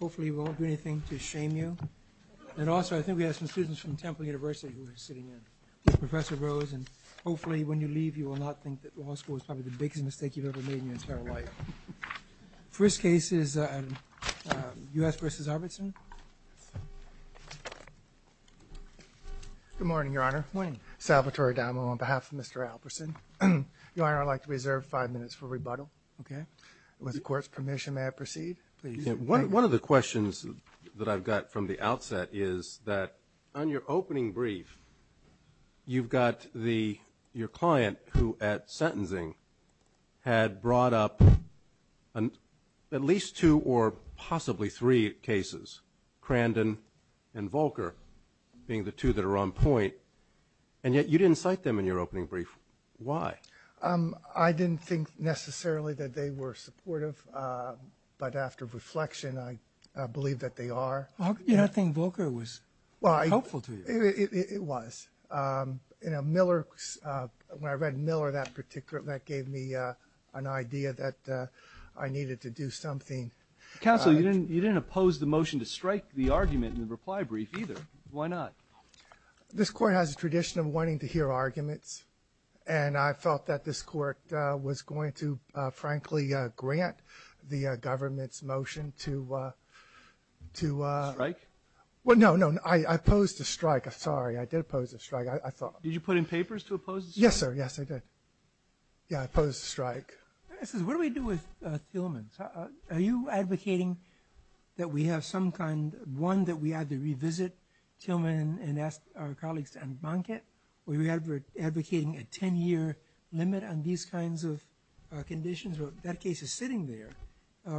Hopefully we won't do anything to shame you. And also, I think we have some students from Temple University who are sitting in. Professor Rose, and hopefully when you leave you will not think that law school is probably the biggest mistake you've ever made in your entire life. First case is U.S. v. Albertson. Good morning, Your Honor. Good morning. Salvatore Adamo on behalf of Mr. Alperson. Your Honor, I'd like to reserve five minutes for rebuttal. Okay. With the Court's permission, may I proceed? Please. One of the questions that I've got from the outset is that on your opening brief, you've got your client who at sentencing had brought up at least two or possibly three cases, Crandon and Volcker being the two that are on point, and yet you didn't cite them in your opening brief. Why? I didn't think necessarily that they were supportive, but after reflection I believe that they are. I think Volcker was helpful to you. It was. Miller, when I read Miller, that gave me an idea that I needed to do something. Counsel, you didn't oppose the motion to strike the argument in the reply brief either. Why not? This Court has a tradition of wanting to hear arguments, and I felt that this Court was going to, frankly, grant the government's motion to ‑‑ Strike? No, no. I opposed the strike. Sorry. I did oppose the strike, I thought. Did you put in papers to oppose the strike? Yes, sir. Yes, I did. Yeah, I opposed the strike. What do we do with Thielmans? Are you advocating that we have some kind, one, that we have to revisit Thielman and ask our colleagues to unbank it? Or are you advocating a 10‑year limit on these kinds of conditions? That case is sitting there.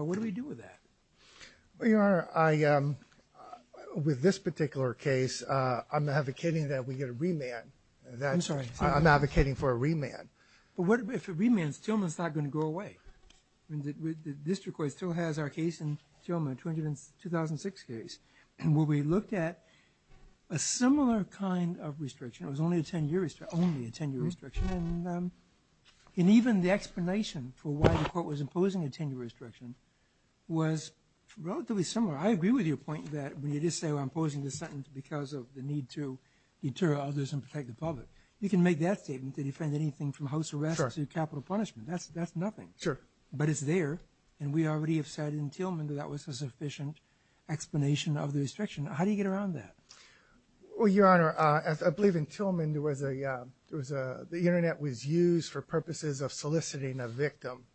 What do we do with that? Well, Your Honor, with this particular case, I'm advocating that we get a remand. I'm sorry. I'm advocating for a remand. But if it remands, Thielman's not going to go away. The district court still has our case in Thielman, 2006 case, where we looked at a similar kind of restriction. It was only a 10‑year restriction. Only a 10‑year restriction. And even the explanation for why the court was imposing a 10‑year restriction was relatively similar. I agree with your point that when you just say, well, I'm imposing this sentence because of the need to deter others and protect the public. You can make that statement to defend anything from house arrest to capital punishment. That's nothing. Sure. But it's there. And we already have said in Thielman that that was a sufficient explanation of the restriction. How do you get around that? Well, Your Honor, I believe in Thielman, the Internet was used for purposes of soliciting a victim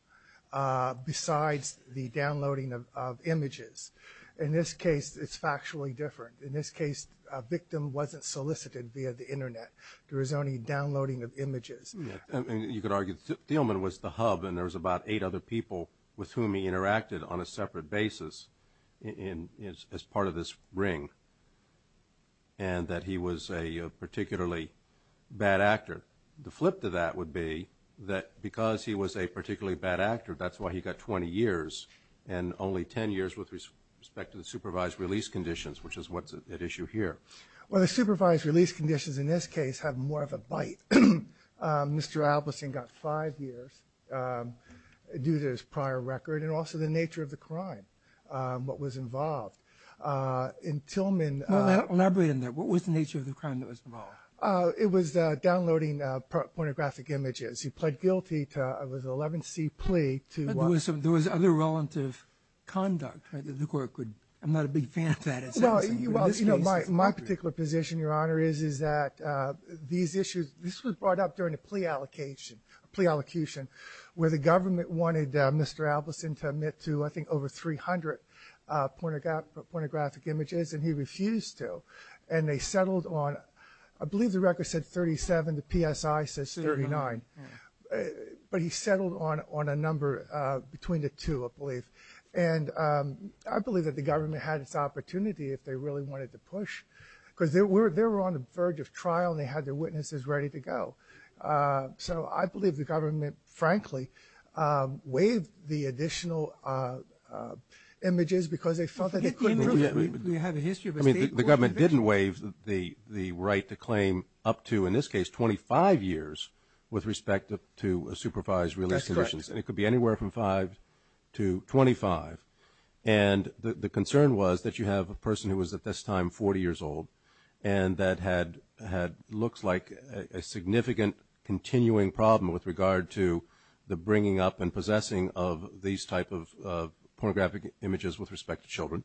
besides the downloading of images. In this case, it's factually different. In this case, a victim wasn't solicited via the Internet. There was only downloading of images. You could argue Thielman was the hub and there was about eight other people with whom he interacted on a separate basis as part of this ring and that he was a particularly bad actor. The flip to that would be that because he was a particularly bad actor, that's why he got 20 years and only 10 years with respect to the supervised release conditions, which is what's at issue here. Well, the supervised release conditions in this case have more of a bite. Mr. Ablissing got five years due to his prior record and also the nature of the crime, what was involved. In Thielman... Elaborate on that. What was the nature of the crime that was involved? It was downloading pornographic images. He pled guilty to a 11-C plea to... But there was other relative conduct that the court could... I'm not a big fan of that. My particular position, Your Honor, is that these issues... This was brought up during a plea allocation where the government wanted Mr. Ablissing to admit to, I think, over 300 pornographic images and he refused to. And they settled on... I believe the record said 37. The PSI says 39. But he settled on a number between the two, I believe. And I believe that the government had its opportunity if they really wanted to push. Because they were on the verge of trial and they had their witnesses ready to go. So I believe the government, frankly, waived the additional images because they felt that they couldn't... We have a history of a state court... I mean, the government didn't waive the right to claim up to, in this case, 25 years with respect to supervised release conditions. That's correct. And it could be anywhere from 5 to 25. And the concern was that you have a person who was, at this time, 40 years old. And that had, looks like, a significant continuing problem with regard to the bringing up and possessing of these type of pornographic images with respect to children.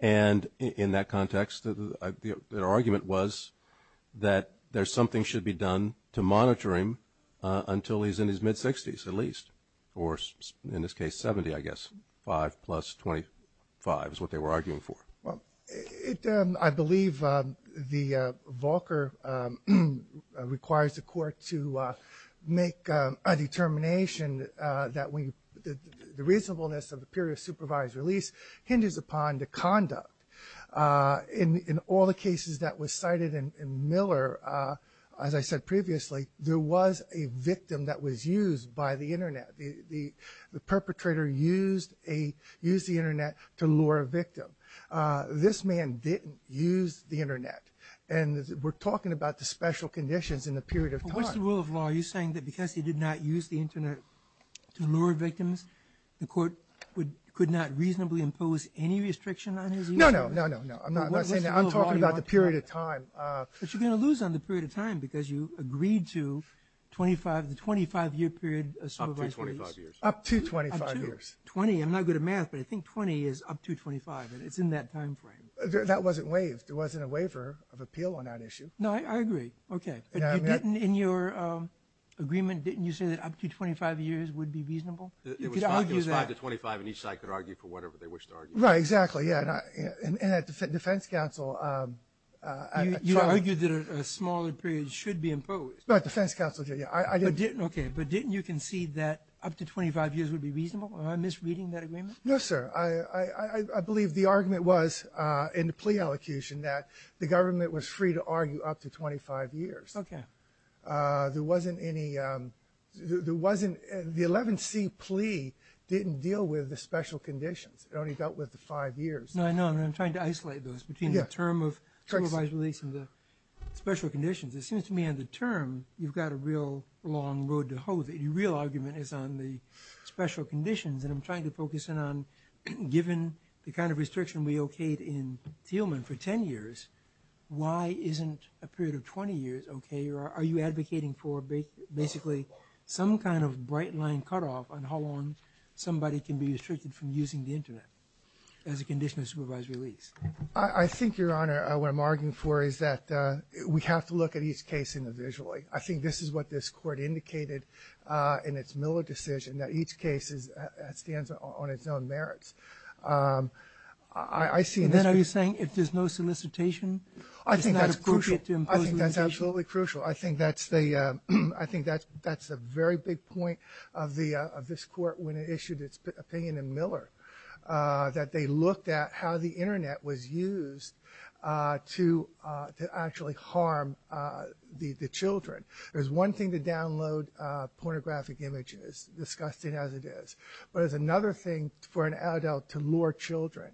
And in that context, their argument was that there's something should be done to monitor him until he's in his mid-60s, at least. Or, in this case, 70, I guess. 5 plus 25 is what they were arguing for. Well, I believe the Volcker requires the court to make a determination that the reasonableness of the period of supervised release hinges upon the conduct. In all the cases that were cited in Miller, as I said previously, there was a victim that was used by the Internet. The perpetrator used the Internet to lure a victim. This man didn't use the Internet. And we're talking about the special conditions in the period of time. But what's the rule of law? Are you saying that because he did not use the Internet to lure victims, the court could not reasonably impose any restriction on his use? No, no, no, no. I'm not saying that. I'm talking about the period of time. But you're going to lose on the period of time because you agreed to the 25-year period of supervised release. Up to 25 years. Up to 25 years. 20. I'm not good at math, but I think 20 is up to 25, and it's in that time frame. That wasn't waived. There wasn't a waiver of appeal on that issue. No, I agree. Okay. But in your agreement, didn't you say that up to 25 years would be reasonable? You could argue that. It was 5 to 25, and each side could argue for whatever they wished to argue. Right. Exactly. Yeah. And at the Defense Council... You argued that a smaller period should be imposed. At the Defense Council, yeah. Okay. But didn't you concede that up to 25 years would be reasonable? Am I misreading that agreement? No, sir. I believe the argument was in the plea elocution that the government was free to argue up to 25 years. Okay. There wasn't any... The 11C plea didn't deal with the special conditions. It only dealt with the 5 years. No, I know. And I'm trying to isolate those between the term of supervised release and the special conditions. It seems to me on the term, you've got a real long road to hoe. The real argument is on the special conditions. And I'm trying to focus in on, given the kind of restriction we okayed in Thielman for 10 years, why isn't a period of 20 years okay? Or are you advocating for basically some kind of bright-line cutoff on how long somebody can be restricted from using the Internet as a condition of supervised release? I think, Your Honor, what I'm arguing for is that we have to look at each case individually. I think this is what this Court indicated in its Miller decision, that each case stands on its own merits. I see... And then are you saying if there's no solicitation, it's not appropriate to impose... I think that's crucial. I think that's absolutely crucial. I think that's the very big point of this Court when it issued its opinion in Miller, that they looked at how the Internet was used to actually harm the children. There's one thing to download pornographic images, disgusting as it is. But there's another thing for an adult to lure children.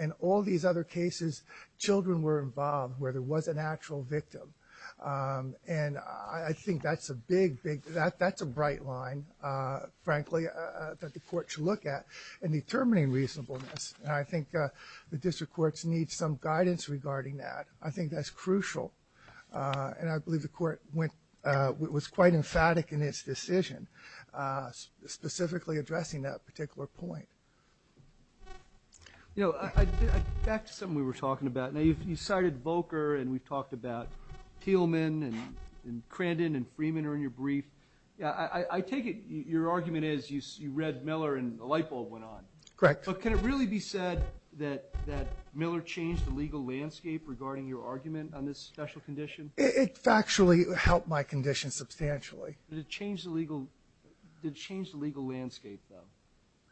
In all these other cases, children were involved where there was an actual victim. And I think that's a big, big... That's a bright line, frankly, that the Court should look at in determining reasonableness. And I think the District Courts need some guidance regarding that. I think that's crucial. And I believe the Court went... specifically addressing that particular point. You know, back to something we were talking about. Now, you cited Volker, and we've talked about Thielman and Crandon and Freeman are in your brief. I take it your argument is you read Miller and the light bulb went on. Correct. But can it really be said that Miller changed the legal landscape regarding your argument on this special condition? It factually helped my condition substantially. Did it change the legal landscape, though?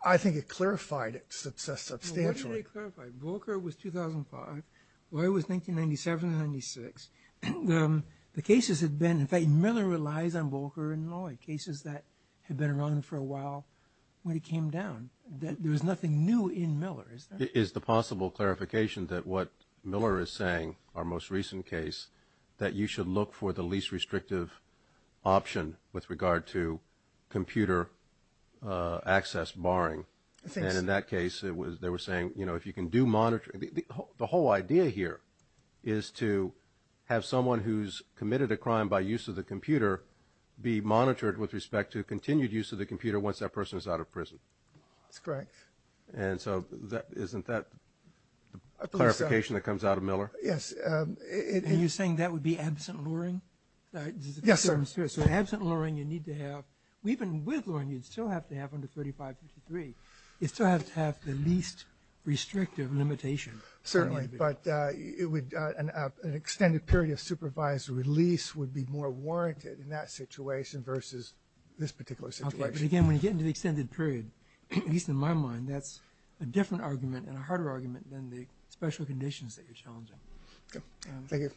I think it clarified it substantially. What did it clarify? Volker was 2005. Loy was 1997-96. The cases had been... In fact, Miller relies on Volker and Loy, cases that had been around for a while when it came down. There was nothing new in Miller, is there? Is the possible clarification that what Miller is saying, our most recent case, that you should look for the least restrictive option with regard to computer access barring? And in that case, they were saying, you know, if you can do monitoring... The whole idea here is to have someone who's committed a crime by use of the computer be monitored with respect to continued use of the computer once that person is out of prison. That's correct. And so isn't that the clarification that comes out of Miller? Yes. And you're saying that would be absent luring? Yes, sir. Absent luring, you need to have... Even with luring, you'd still have to have under 3553. You'd still have to have the least restrictive limitation. Certainly. But an extended period of supervised release would be more warranted in that situation versus this particular situation. But again, when you get into the extended period, at least in my mind, that's a different argument and a harder argument than the special conditions that you're challenging. Thank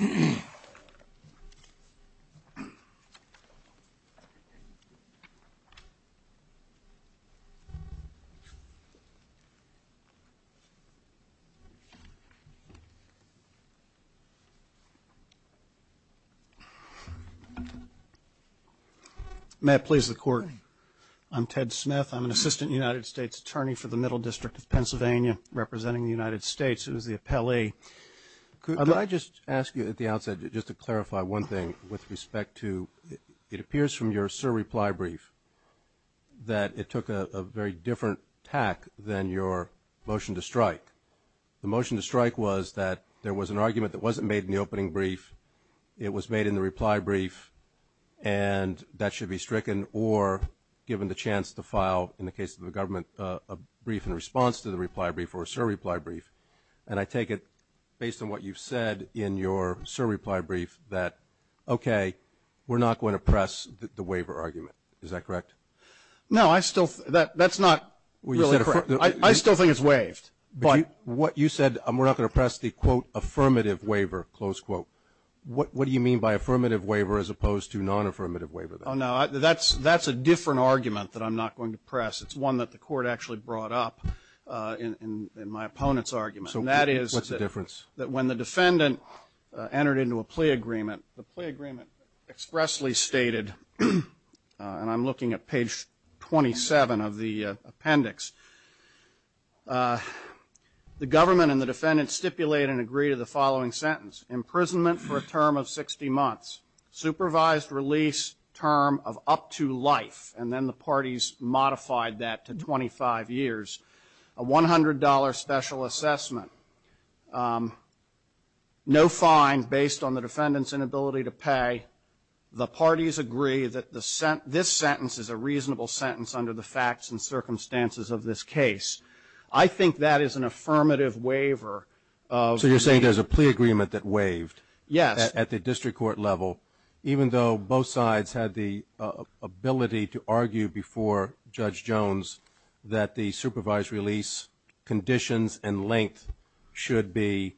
you. May it please the Court, I'm Ted Smith. I'm an assistant United States attorney for the Middle District of Pennsylvania, representing the United States as the appellee. Could I just ask you at the outset just to clarify one thing with respect to... It appears from your surreply brief that it took a very different tack than your motion to strike. The motion to strike was that there was an argument that wasn't made in the opening brief, it was made in the reply brief, and that should be stricken or given the chance to file, in the case of the government, a brief in response to the reply brief or a surreply brief. And I take it, based on what you've said in your surreply brief, that, okay, we're not going to press the waiver argument. Is that correct? No, that's not really correct. I still think it's waived. But you said we're not going to press the, quote, affirmative waiver, close quote. What do you mean by affirmative waiver as opposed to non-affirmative waiver? Oh, no, that's a different argument that I'm not going to press. It's one that the Court actually brought up in my opponent's argument. So what's the difference? That when the defendant entered into a plea agreement, the plea agreement expressly stated, and I'm looking at page 27 of the appendix, the government and the defendant stipulate and agree to the following sentence, imprisonment for a term of 60 months, supervised release term of up to life, and then the parties modified that to 25 years, a $100 special assessment, no fine based on the defendant's inability to pay. The parties agree that this sentence is a reasonable sentence under the facts and circumstances of this case. I think that is an affirmative waiver. So you're saying there's a plea agreement that waived? Yes. At the district court level, even though both sides had the ability to argue before Judge Jones that the supervised release conditions and length should be,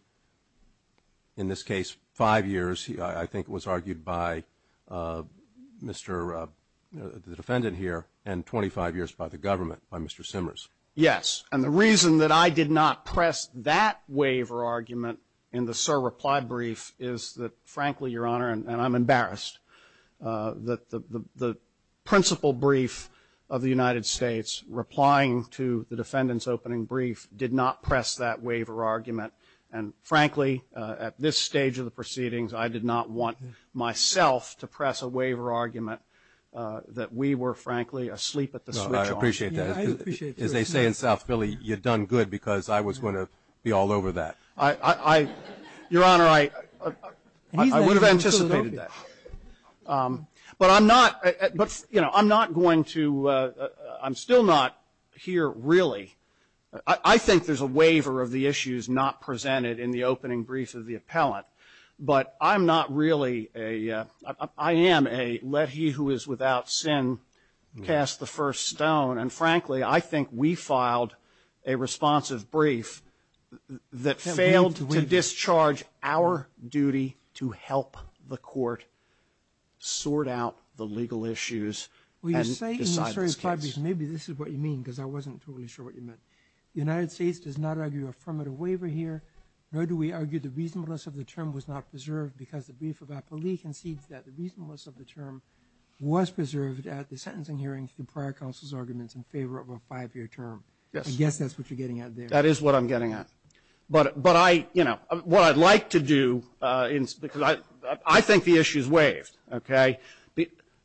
in this case, five years, I think it was argued by the defendant here and 25 years by the government, by Mr. Simmers. Yes. And the reason that I did not press that waiver argument in the Sir! reply brief is that, frankly, Your Honor, and I'm embarrassed, that the principal brief of the United States, replying to the defendant's opening brief, did not press that waiver argument. And, frankly, at this stage of the proceedings, I did not want myself to press a waiver argument that we were, frankly, asleep at the switch on. I appreciate that. As they say in South Philly, you've done good because I was going to be all over that. Your Honor, I would have anticipated that. But I'm not going to – I'm still not here, really. I think there's a waiver of the issues not presented in the opening brief of the appellant. But I'm not really a – I am a let he who is without sin cast the first stone. And, frankly, I think we filed a responsive brief that failed to discharge our duty to help the court sort out the legal issues and decide this case. Maybe this is what you mean, because I wasn't totally sure what you meant. The United States does not argue affirmative waiver here, nor do we argue the reasonableness of the term was not preserved because the brief of appellee concedes that the reasonableness of the term was preserved at the sentencing hearing through prior counsel's arguments in favor of a five-year term. Yes. I guess that's what you're getting at there. That is what I'm getting at. But I, you know, what I'd like to do, because I think the issue is waived, okay,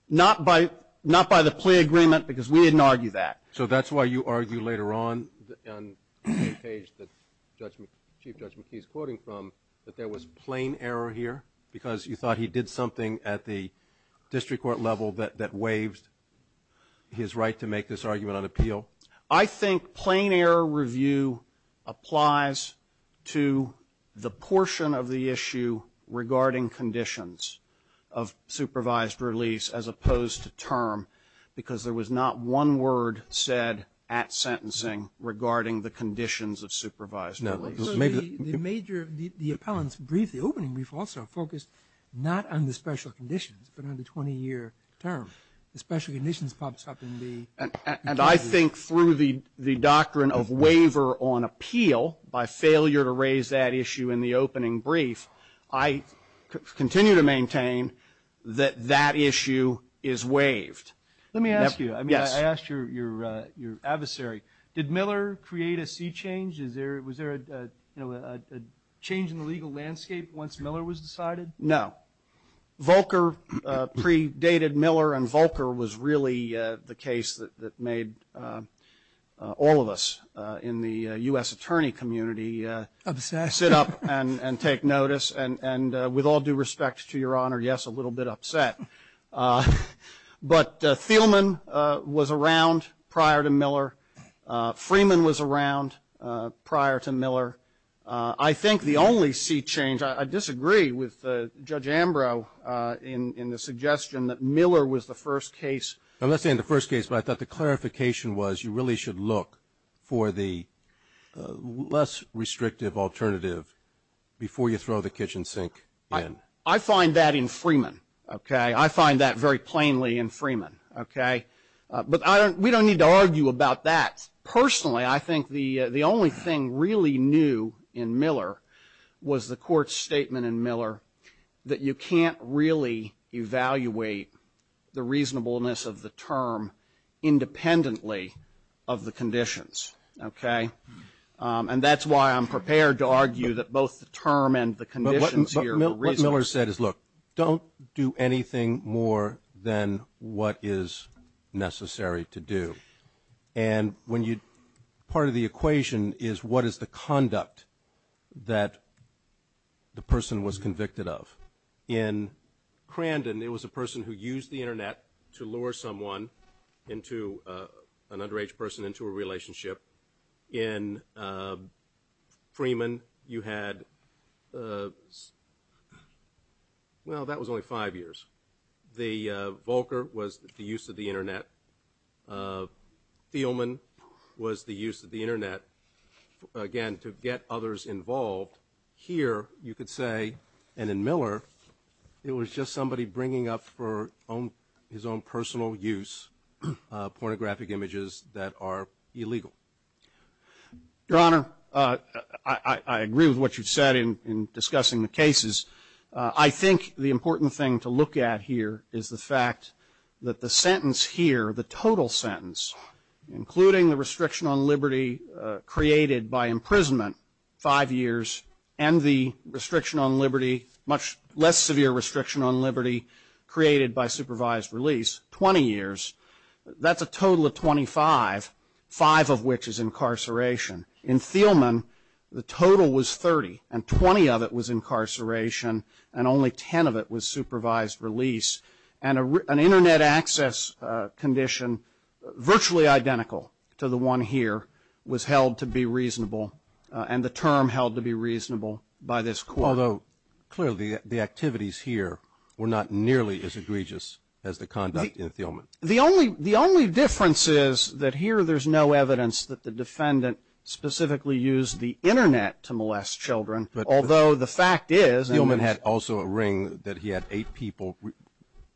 not by the plea agreement, because we didn't argue that. So that's why you argue later on on the page that Chief Judge McKee is quoting from that there was plain error here because you thought he did something at the district court level that waived his right to make this argument on appeal? I think plain error review applies to the portion of the issue regarding conditions of supervised release as opposed to term, because there was not one word said at sentencing regarding the conditions of supervised release. No. The major, the appellant's brief, the opening brief also focused not on the special conditions, but on the 20-year term. The special conditions pops up in the brief. And I think through the doctrine of waiver on appeal, by failure to raise that issue in the opening brief, I continue to maintain that that issue is waived. Let me ask you. Yes. I mean, I asked your adversary. Did Miller create a sea change? Was there, you know, a change in the legal landscape once Miller was decided? No. Volcker predated Miller, and Volcker was really the case that made all of us in the U.S. attorney community sit up. And take notice. And with all due respect to your honor, yes, a little bit upset. But Thielman was around prior to Miller. Freeman was around prior to Miller. I think the only sea change, I disagree with Judge Ambrose in the suggestion that Miller was the first case. I'm not saying the first case, but I thought the clarification was you really should look for the less restrictive alternative before you throw the kitchen sink in. I find that in Freeman, okay? I find that very plainly in Freeman, okay? But we don't need to argue about that. Personally, I think the only thing really new in Miller was the court's statement in Miller that you can't really evaluate the reasonableness of the term independently of the conditions, okay? And that's why I'm prepared to argue that both the term and the conditions here are reasonable. But what Miller said is, look, don't do anything more than what is necessary to do. And part of the equation is what is the conduct that the person was convicted of. In Crandon, it was a person who used the Internet to lure someone, an underage person, into a relationship. In Freeman, you had, well, that was only five years. The Volcker was the use of the Internet. Thielman was the use of the Internet, again, to get others involved. Here, you could say, and in Miller, it was just somebody bringing up for his own personal use pornographic images that are illegal. Your Honor, I agree with what you said in discussing the cases. I think the important thing to look at here is the fact that the sentence here, the total sentence, including the restriction on liberty created by imprisonment, five years, and the restriction on liberty, much less severe restriction on liberty, created by supervised release, 20 years. That's a total of 25, five of which is incarceration. In Thielman, the total was 30, and 20 of it was incarceration, and only 10 of it was supervised release. And an Internet access condition virtually identical to the one here was held to be reasonable, and the term held to be reasonable by this court. Although, clearly, the activities here were not nearly as egregious as the conduct in Thielman. The only difference is that here there's no evidence that the defendant specifically used the Internet to molest children, although the fact is Thielman had also a ring that he had eight people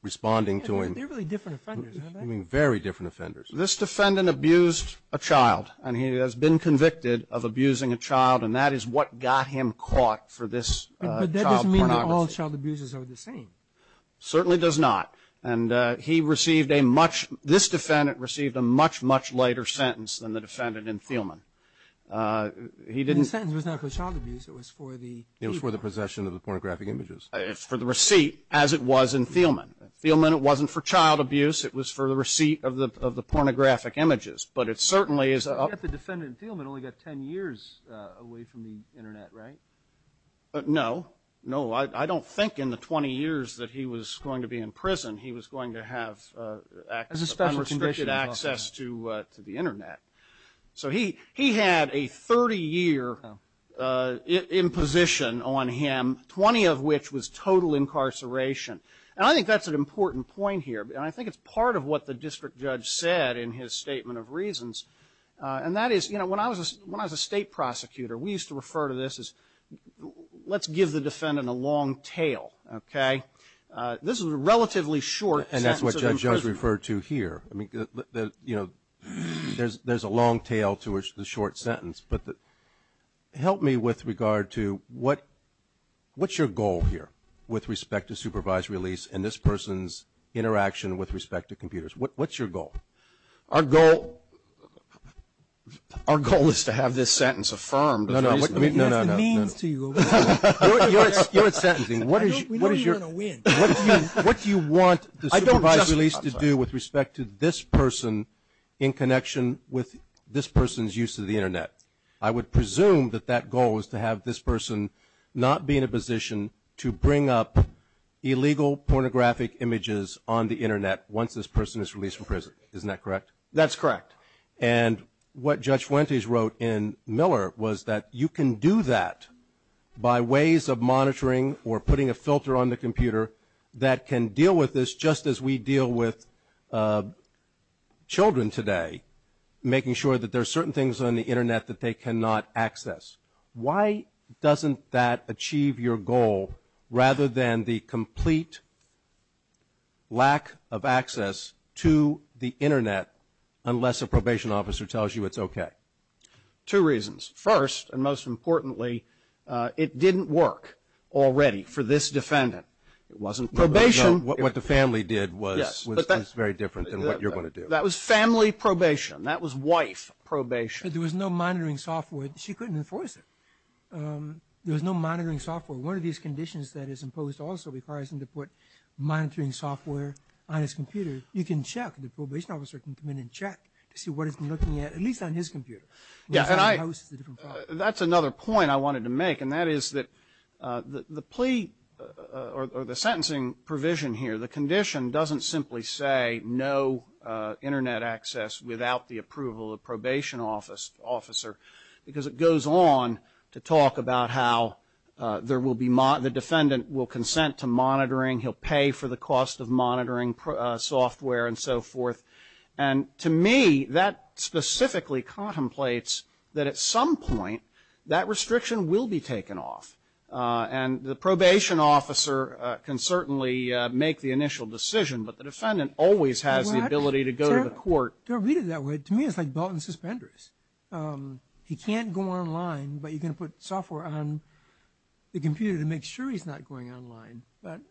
responding to him. They're really different offenders, aren't they? Very different offenders. This defendant abused a child, and he has been convicted of abusing a child, and that is what got him caught for this child pornography. But that doesn't mean that all child abusers are the same. Certainly does not. And he received a much, this defendant received a much, much lighter sentence than the defendant in Thielman. The sentence was not for child abuse. It was for the possession of the pornographic images. It was for the receipt, as it was in Thielman. Thielman, it wasn't for child abuse. It was for the receipt of the pornographic images. But it certainly is. The defendant in Thielman only got 10 years away from the Internet, right? No. No, I don't think in the 20 years that he was going to be in prison he was going to have unrestricted access to the Internet. So he had a 30-year imposition on him, 20 of which was total incarceration. And I think that's an important point here, and I think it's part of what the district judge said in his statement of reasons. And that is, you know, when I was a state prosecutor, we used to refer to this as let's give the defendant a long tail, okay? This was a relatively short sentence of imprisonment. And that's what Judge Jones referred to here. I mean, you know, there's a long tail to the short sentence. But help me with regard to what's your goal here with respect to supervised release and this person's interaction with respect to computers? What's your goal? Our goal is to have this sentence affirmed. No, no. That's the means to you. You're sentencing. We know you're going to win. What do you want the supervised release to do with respect to this person in connection with this person's use of the Internet? I would presume that that goal is to have this person not be in a position to bring up illegal pornographic images on the Internet once this person is released from prison. Isn't that correct? That's correct. And what Judge Fuentes wrote in Miller was that you can do that by ways of monitoring or putting a filter on the computer that can deal with this just as we deal with children today, making sure that there are certain things on the Internet that they cannot access. Why doesn't that achieve your goal rather than the complete lack of access to the Internet, unless a probation officer tells you it's okay? Two reasons. First, and most importantly, it didn't work already for this defendant. It wasn't probation. What the family did was very different than what you're going to do. That was family probation. That was wife probation. There was no monitoring software. She couldn't enforce it. There was no monitoring software. One of these conditions that is imposed also requires them to put monitoring software on his computer. You can check. The probation officer can come in and check to see what he's been looking at, at least on his computer. That's another point I wanted to make, and that is that the plea or the sentencing provision here, the condition doesn't simply say no Internet access without the approval of the probation officer because it goes on to talk about how the defendant will consent to monitoring. He'll pay for the cost of monitoring software and so forth. To me, that specifically contemplates that at some point that restriction will be taken off, and the probation officer can certainly make the initial decision, but the defendant always has the ability to go to the court. To read it that way, to me it's like belt and suspenders. He can't go online, but you can put software on the computer to make sure he's not going online. But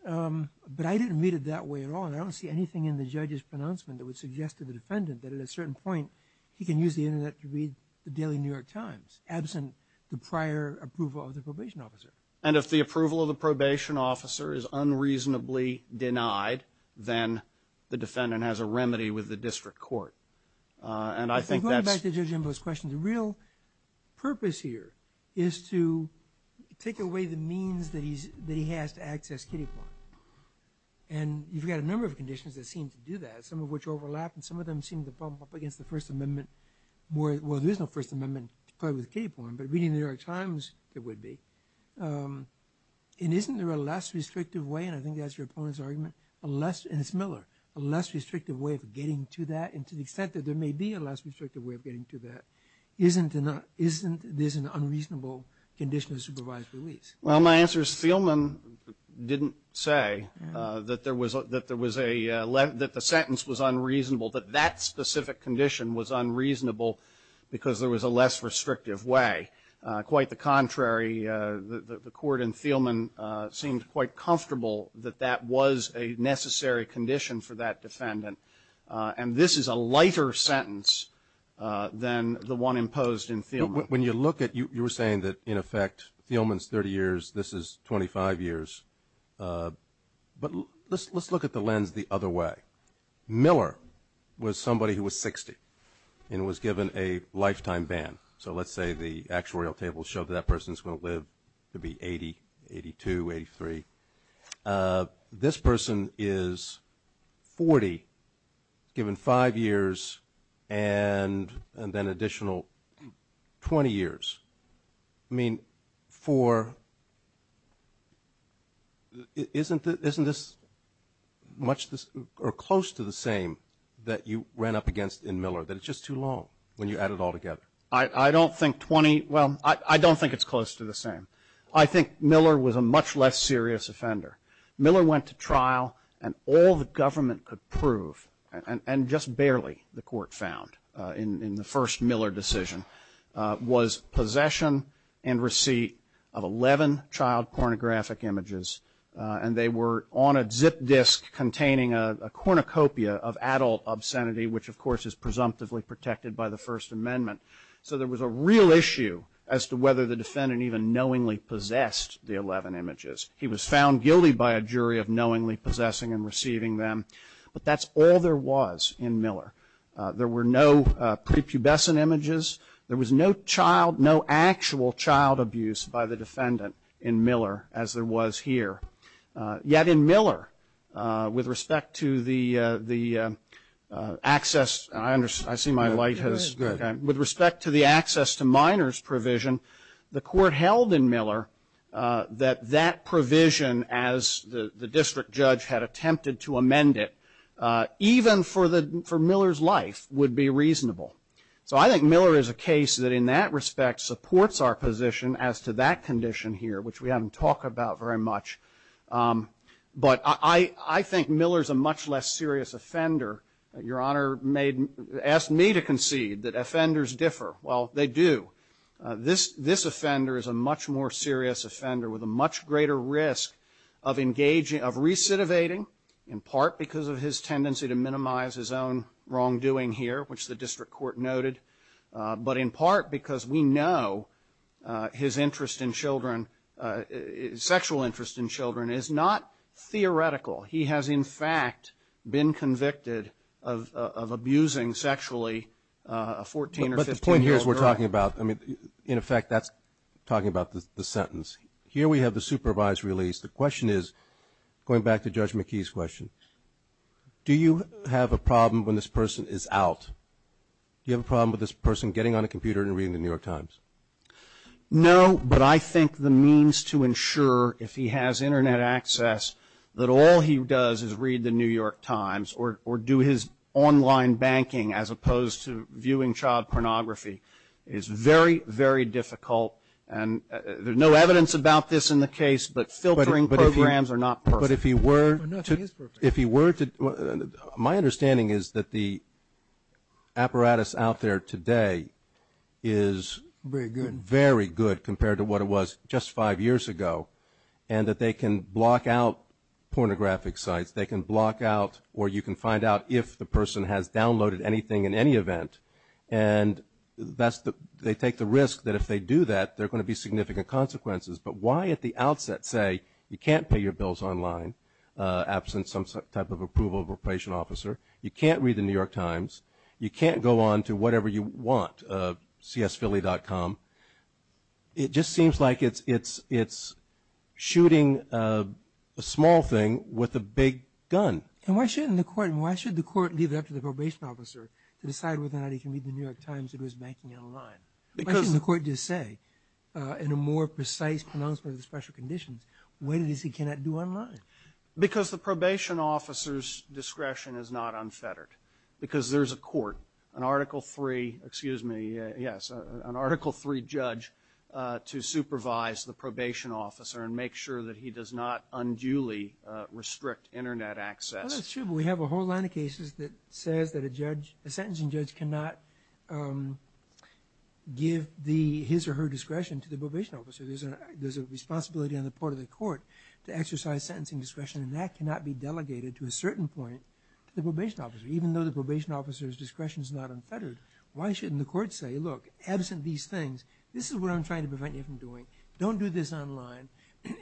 I didn't read it that way at all, and I don't see anything in the judge's pronouncement that would suggest to the defendant that at a certain point he can use the Internet to read the daily New York Times absent the prior approval of the probation officer. And if the approval of the probation officer is unreasonably denied, then the defendant has a remedy with the district court. And I think that's... Going back to Judge Imba's question, the real purpose here is to take away the means that he has to access Kitty Point. And you've got a number of conditions that seem to do that, some of which overlap and some of them seem to bump up against the First Amendment. Well, there is no First Amendment to play with Kitty Point, but reading the New York Times, there would be. And isn't there a less restrictive way, and I think that's your opponent's argument, and it's Miller, a less restrictive way of getting to that? And to the extent that there may be a less restrictive way of getting to that, isn't there an unreasonable condition of supervised release? Well, my answer is Thielman didn't say that the sentence was unreasonable, that that specific condition was unreasonable because there was a less restrictive way. Quite the contrary, the court in Thielman seemed quite comfortable that that was a necessary condition for that defendant. And this is a lighter sentence than the one imposed in Thielman. When you look at it, you were saying that, in effect, Thielman's 30 years, this is 25 years. But let's look at the lens the other way. Miller was somebody who was 60 and was given a lifetime ban. So let's say the actuarial tables show that that person is going to live to be 80, 82, 83. This person is 40, given five years, and then additional 20 years. I mean, for isn't this much or close to the same that you ran up against in Miller, that it's just too long when you add it all together? I don't think 20, well, I don't think it's close to the same. I think Miller was a much less serious offender. Miller went to trial, and all the government could prove, and just barely the court found in the first Miller decision, was possession and receipt of 11 child pornographic images. And they were on a zip disk containing a cornucopia of adult obscenity, which, of course, is presumptively protected by the First Amendment. So there was a real issue as to whether the defendant even knowingly possessed the 11 images. He was found guilty by a jury of knowingly possessing and receiving them. But that's all there was in Miller. There were no prepubescent images. There was no child, no actual child abuse by the defendant in Miller as there was here. Yet in Miller, with respect to the access, and I see my light has, with respect to the access to minors provision, the court held in Miller that that provision, as the district judge had attempted to amend it, even for Miller's life, would be reasonable. So I think Miller is a case that in that respect supports our position as to that condition here, which we haven't talked about very much. But I think Miller is a much less serious offender. Your Honor asked me to concede that offenders differ. Well, they do. This offender is a much more serious offender with a much greater risk of recidivating, in part because of his tendency to minimize his own wrongdoing here, which the district court noted, but in part because we know his interest in children, sexual interest in children, is not theoretical. He has, in fact, been convicted of abusing sexually a 14 or 15-year-old girl. But the point here is we're talking about, I mean, in effect, that's talking about the sentence. Here we have the supervised release. The question is, going back to Judge McKee's question, do you have a problem when this person is out? Do you have a problem with this person getting on a computer and reading the New York Times? No, but I think the means to ensure, if he has Internet access, that all he does is read the New York Times or do his online banking as opposed to viewing child pornography is very, very difficult. And there's no evidence about this in the case, but filtering programs are not perfect. My understanding is that the apparatus out there today is very good compared to what it was just five years ago, and that they can block out pornographic sites. They can block out or you can find out if the person has downloaded anything in any event. And they take the risk that if they do that, there are going to be significant consequences. But why at the outset say you can't pay your bills online, absent some type of approval of a probation officer, you can't read the New York Times, you can't go on to whatever you want, csphilly.com? It just seems like it's shooting a small thing with a big gun. And why shouldn't the court leave it up to the probation officer to decide whether or not he can read the New York Times or do his banking online? Why shouldn't the court just say, in a more precise pronouncement of the special conditions, what it is he cannot do online? Because the probation officer's discretion is not unfettered. Because there's a court, an Article III, excuse me, yes, an Article III judge to supervise the probation officer and make sure that he does not unduly restrict Internet access. Well, that's true, but we have a whole line of cases that says that a judge, a sentencing judge cannot give his or her discretion to the probation officer. There's a responsibility on the part of the court to exercise sentencing discretion, and that cannot be delegated to a certain point to the probation officer. Even though the probation officer's discretion is not unfettered, why shouldn't the court say, look, absent these things, this is what I'm trying to prevent you from doing, don't do this online,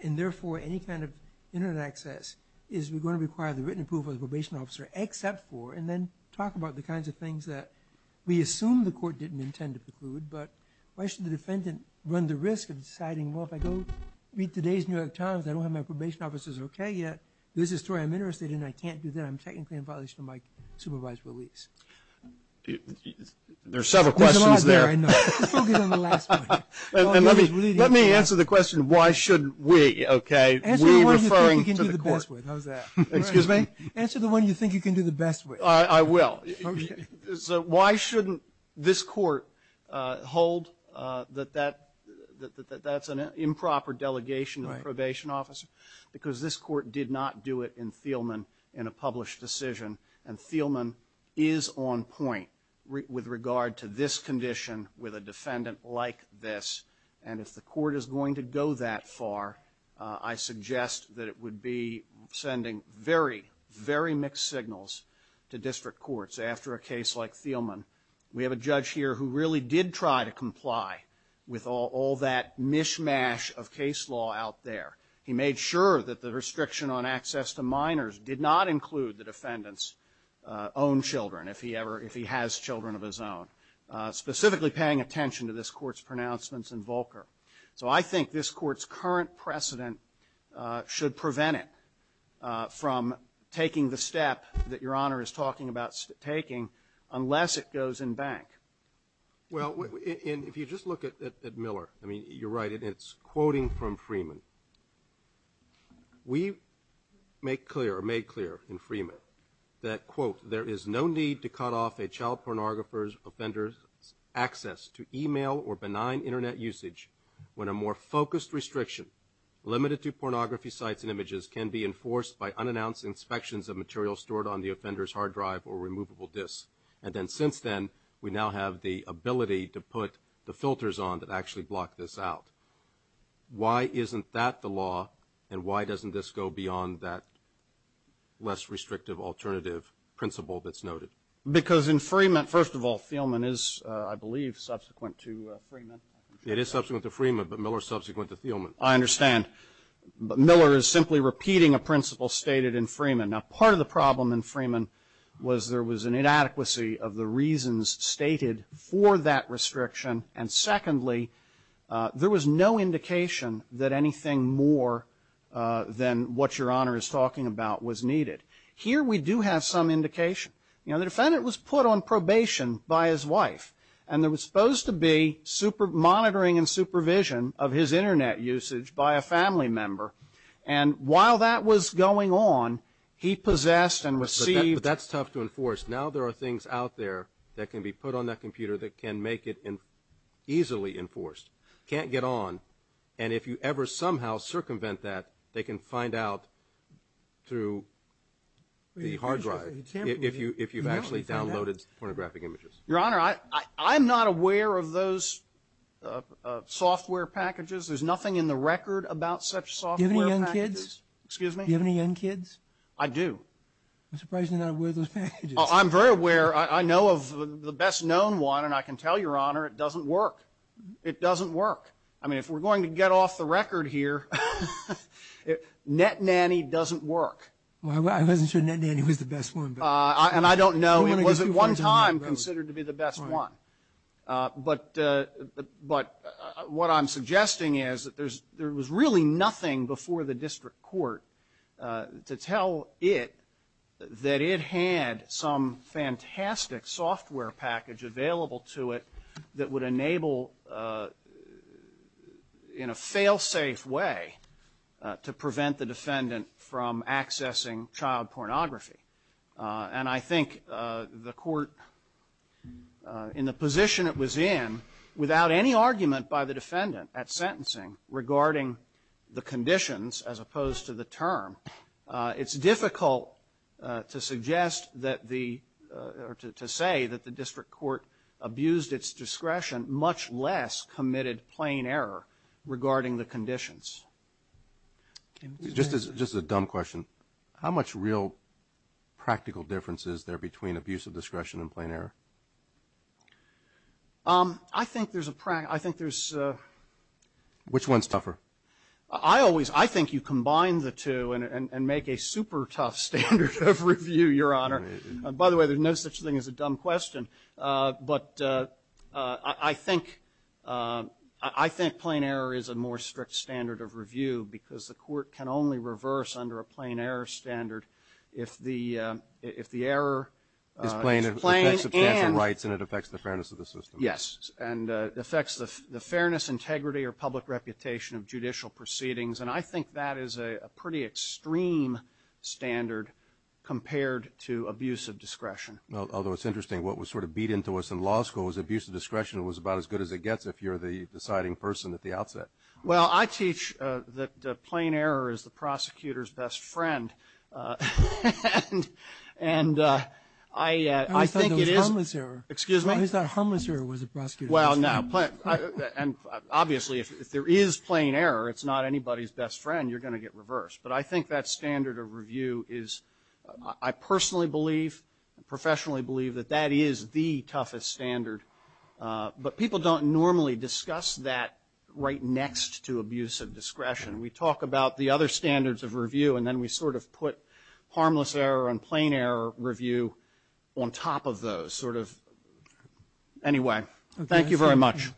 and therefore any kind of Internet access is going to require the written approval of the probation officer, except for, and then talk about the kinds of things that we assume the court didn't intend to preclude. But why should the defendant run the risk of deciding, well, if I go read today's New York Times, I don't have my probation officer's okay yet, this is the story I'm interested in, I can't do that, I'm technically in violation of my supervised release. There are several questions there. There's a lot there, I know. Just focus on the last one. And let me answer the question, why should we, okay, we referring to the court. Answer the one you think you can do the best with, how's that? Excuse me? Answer the one you think you can do the best with. I will. So why shouldn't this court hold that that's an improper delegation to the probation officer? Because this court did not do it in Thielman in a published decision, and Thielman is on point with regard to this condition with a defendant like this. And if the court is going to go that far, I suggest that it would be sending very, very mixed signals to district courts after a case like Thielman. We have a judge here who really did try to comply with all that mishmash of case law out there. He made sure that the restriction on access to minors did not include the defendant's own children, if he ever, if he has children of his own, specifically paying attention to this Court's pronouncements in Volcker. So I think this Court's current precedent should prevent it from taking the step that Your Honor is talking about taking unless it goes in bank. Well, if you just look at Miller, I mean, you're right, and it's quoting from Freeman. We make clear or made clear in Freeman that, quote, there is no need to cut off a child pornographer's offender's access to e-mail or benign Internet usage when a more focused restriction limited to pornography sites and images can be enforced by unannounced inspections of material stored on the offender's hard drive or removable disks. And then since then, we now have the ability to put the filters on that actually block this out. Why isn't that the law? And why doesn't this go beyond that less restrictive alternative principle that's noted? Because in Freeman, first of all, Thielman is, I believe, subsequent to Freeman. It is subsequent to Freeman, but Miller is subsequent to Thielman. I understand. But Miller is simply repeating a principle stated in Freeman. Now, part of the problem in Freeman was there was an inadequacy of the reasons stated for that restriction. And secondly, there was no indication that anything more than what Your Honor is talking about was needed. Here we do have some indication. You know, the defendant was put on probation by his wife, and there was supposed to be monitoring and supervision of his Internet usage by a family member. And while that was going on, he possessed and received. But that's tough to enforce. Now there are things out there that can be put on that computer that can make it easily enforced. Can't get on. And if you ever somehow circumvent that, they can find out through the hard drive if you've actually downloaded pornographic images. Your Honor, I'm not aware of those software packages. There's nothing in the record about such software packages. Do you have any young kids? Excuse me? Do you have any young kids? I do. I'm surprised you're not aware of those packages. I'm very aware. I know of the best known one, and I can tell Your Honor it doesn't work. It doesn't work. I mean, if we're going to get off the record here, Net Nanny doesn't work. I wasn't sure Net Nanny was the best one. And I don't know. It was at one time considered to be the best one. But what I'm suggesting is that there was really nothing before the district court to tell it that it had some fantastic software package available to it that would enable, in a fail-safe way, to prevent the defendant from accessing child pornography. And I think the court, in the position it was in, without any argument by the defendant at sentencing regarding the conditions as opposed to the term, it's difficult to suggest that the or to say that the district court abused its discretion, much less committed plain error regarding the conditions. Just a dumb question. How much real practical difference is there between abuse of discretion and plain error? I think there's a practical. I think there's. Which one's tougher? I always, I think you combine the two and make a super tough standard of review, Your Honor. By the way, there's no such thing as a dumb question. But I think plain error is a more strict standard of review because the court can only reverse under a plain error standard if the error is plain and. It's plain, it affects substantial rights, and it affects the fairness of the system. Yes, and it affects the fairness, integrity, or public reputation of judicial proceedings. And I think that is a pretty extreme standard compared to abuse of discretion. Although it's interesting, what was sort of beat into us in law school was abuse of discretion was about as good as it gets if you're the deciding person at the outset. Well, I teach that plain error is the prosecutor's best friend. And I think it is. I thought it was harmless error. Excuse me? I thought harmless error was the prosecutor's best friend. Well, no. And obviously if there is plain error, it's not anybody's best friend. You're going to get reversed. But I think that standard of review is, I personally believe, professionally believe that that is the toughest standard. But people don't normally discuss that right next to abuse of discretion. We talk about the other standards of review, and then we sort of put harmless error and plain error review on top of those, sort of. Anyway, thank you very much.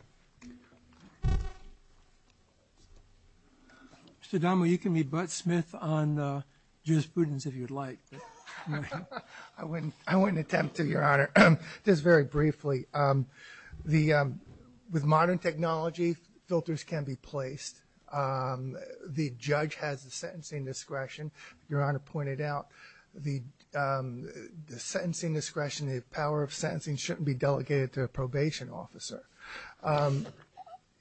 Mr. Dahmer, you can be butt Smith on Judith Pruden's if you'd like. I wouldn't attempt to, Your Honor. Just very briefly, with modern technology, filters can be placed. The judge has the sentencing discretion. Your Honor pointed out the sentencing discretion, the power of sentencing shouldn't be delegated to a probation officer.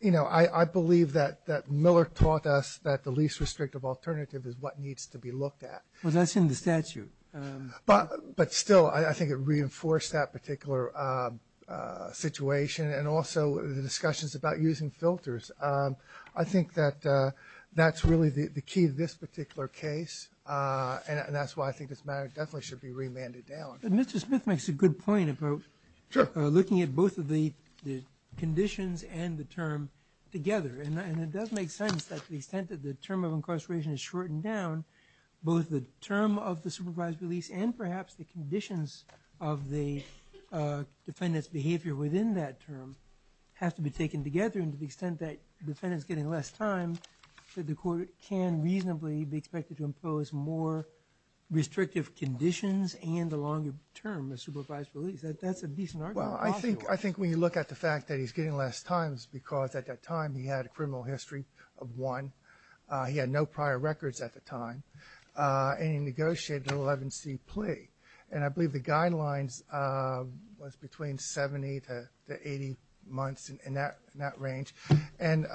You know, I believe that Miller taught us that the least restrictive alternative is what needs to be looked at. Well, that's in the statute. But still, I think it reinforced that particular situation, and also the discussions about using filters. I think that that's really the key to this particular case, and that's why I think this matter definitely should be remanded down. Mr. Smith makes a good point about looking at both of the conditions and the term together, and it does make sense that to the extent that the term of incarceration is shortened down, both the term of the supervised release and perhaps the conditions of the defendant's behavior within that term have to be taken together, and to the extent that the defendant's getting less time, the court can reasonably be expected to impose more restrictive conditions and the longer term of supervised release. That's a decent argument. Well, I think when you look at the fact that he's getting less time, it's because at that time he had a criminal history of one. He had no prior records at the time, and he negotiated an 11C plea. And I believe the guidelines was between 70 to 80 months in that range. And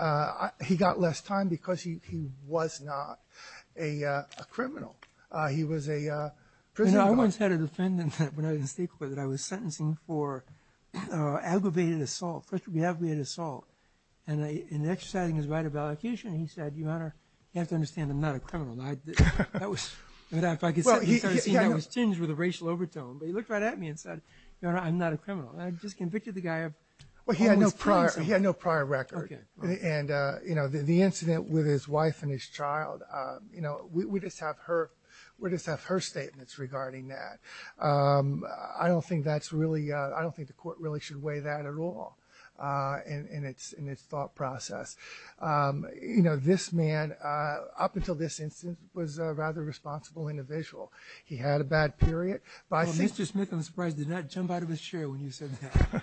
he got less time because he was not a criminal. He was a prison guard. You know, I once had a defendant when I was in state court that I was sentencing for aggravated assault, first of all, aggravated assault, and in exercising his right of allocution, he said, Your Honor, you have to understand I'm not a criminal. That was, if I could say, that was tinged with a racial overtone. But he looked right at me and said, Your Honor, I'm not a criminal. I just convicted the guy of almost killing someone. Well, he had no prior record. And, you know, the incident with his wife and his child, you know, we just have her statements regarding that. I don't think that's really, I don't think the court really should weigh that at all in its thought process. You know, this man up until this instance was a rather responsible individual. He had a bad period. Well, Mr. Smith, I'm surprised, did not jump out of his chair when you said that.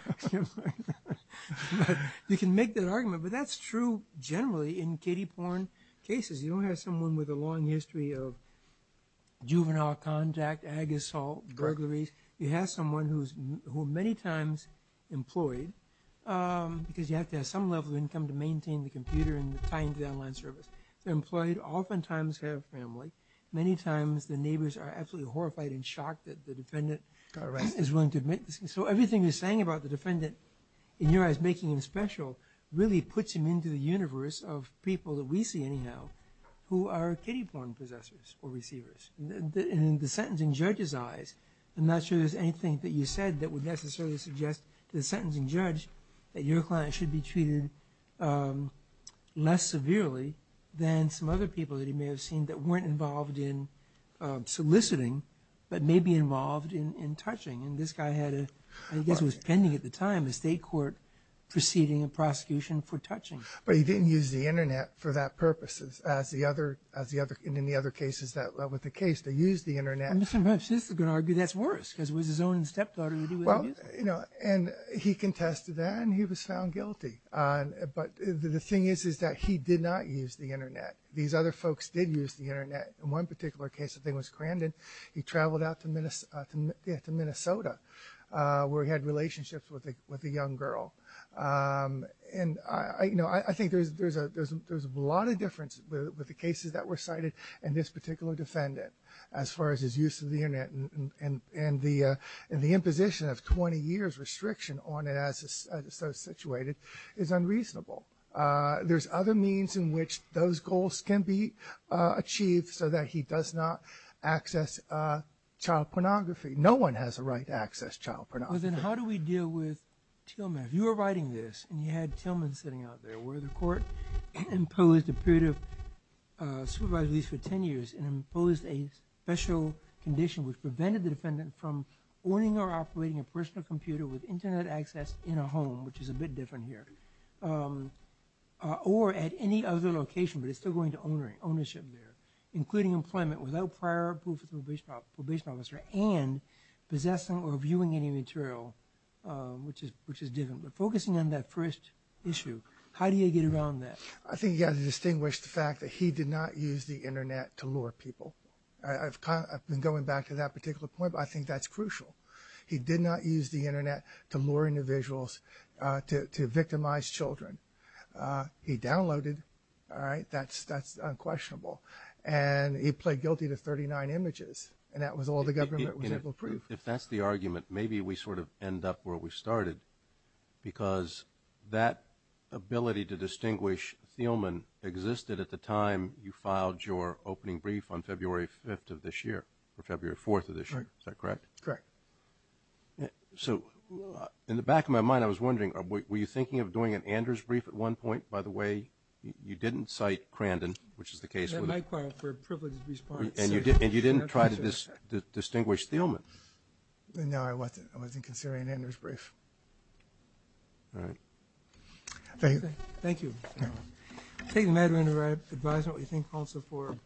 You can make that argument, but that's true generally in kiddie porn cases. You don't have someone with a long history of juvenile contact, ag assault, burglaries. You have someone who's many times employed because you have to have some level of income to maintain the computer and tie into the online service. They're employed, oftentimes have family. Many times the neighbors are absolutely horrified and shocked that the defendant is willing to admit this. So everything you're saying about the defendant, in your eyes, making him special, really puts him into the universe of people that we see anyhow who are kiddie porn possessors or receivers. In the sentencing judge's eyes, I'm not sure there's anything that you said that would necessarily suggest to the sentencing judge that your client should be treated less severely than some other people that he may have seen that weren't involved in soliciting but may be involved in touching. And this guy had a, I guess it was pending at the time, a state court proceeding, a prosecution for touching. But he didn't use the Internet for that purpose, as in the other cases that led with the case, they used the Internet. Mr. McIntyre is going to argue that's worse because it was his own stepdaughter who did it. Well, you know, and he contested that and he was found guilty. But the thing is that he did not use the Internet. These other folks did use the Internet. In one particular case, I think it was Crandon, he traveled out to Minnesota where he had relationships with a young girl. And, you know, I think there's a lot of difference with the cases that were cited in this particular defendant as far as his use of the Internet and the imposition of 20 years restriction on it as it's so situated is unreasonable. There's other means in which those goals can be achieved so that he does not access child pornography. No one has the right to access child pornography. Well, then how do we deal with Tillman? If you were writing this and you had Tillman sitting out there where the court imposed a period of supervised release for 10 years and imposed a special condition which prevented the defendant from owning or operating a personal computer with Internet access in a home, which is a bit different here, or at any other location, but it's still going to ownership there, including employment without prior approval from a probation officer and possessing or viewing any material, which is different. But focusing on that first issue, how do you get around that? I think you have to distinguish the fact that he did not use the Internet to lure people. I've been going back to that particular point, but I think that's crucial. He did not use the Internet to lure individuals to victimize children. He downloaded, all right? That's unquestionable. And he pled guilty to 39 images, and that was all the government was able to prove. If that's the argument, maybe we sort of end up where we started because that ability to distinguish Tillman existed at the time you filed your opening brief on February 5th of this year, or February 4th of this year. Is that correct? Correct. So in the back of my mind, I was wondering, were you thinking of doing an Anders brief at one point, by the way? You didn't cite Crandon, which is the case. That might qualify for a privileged response. And you didn't try to distinguish Tillman. No, I wasn't considering an Anders brief. All right. Thank you. Thank you. Thank you. I'm going to advise on what we think also.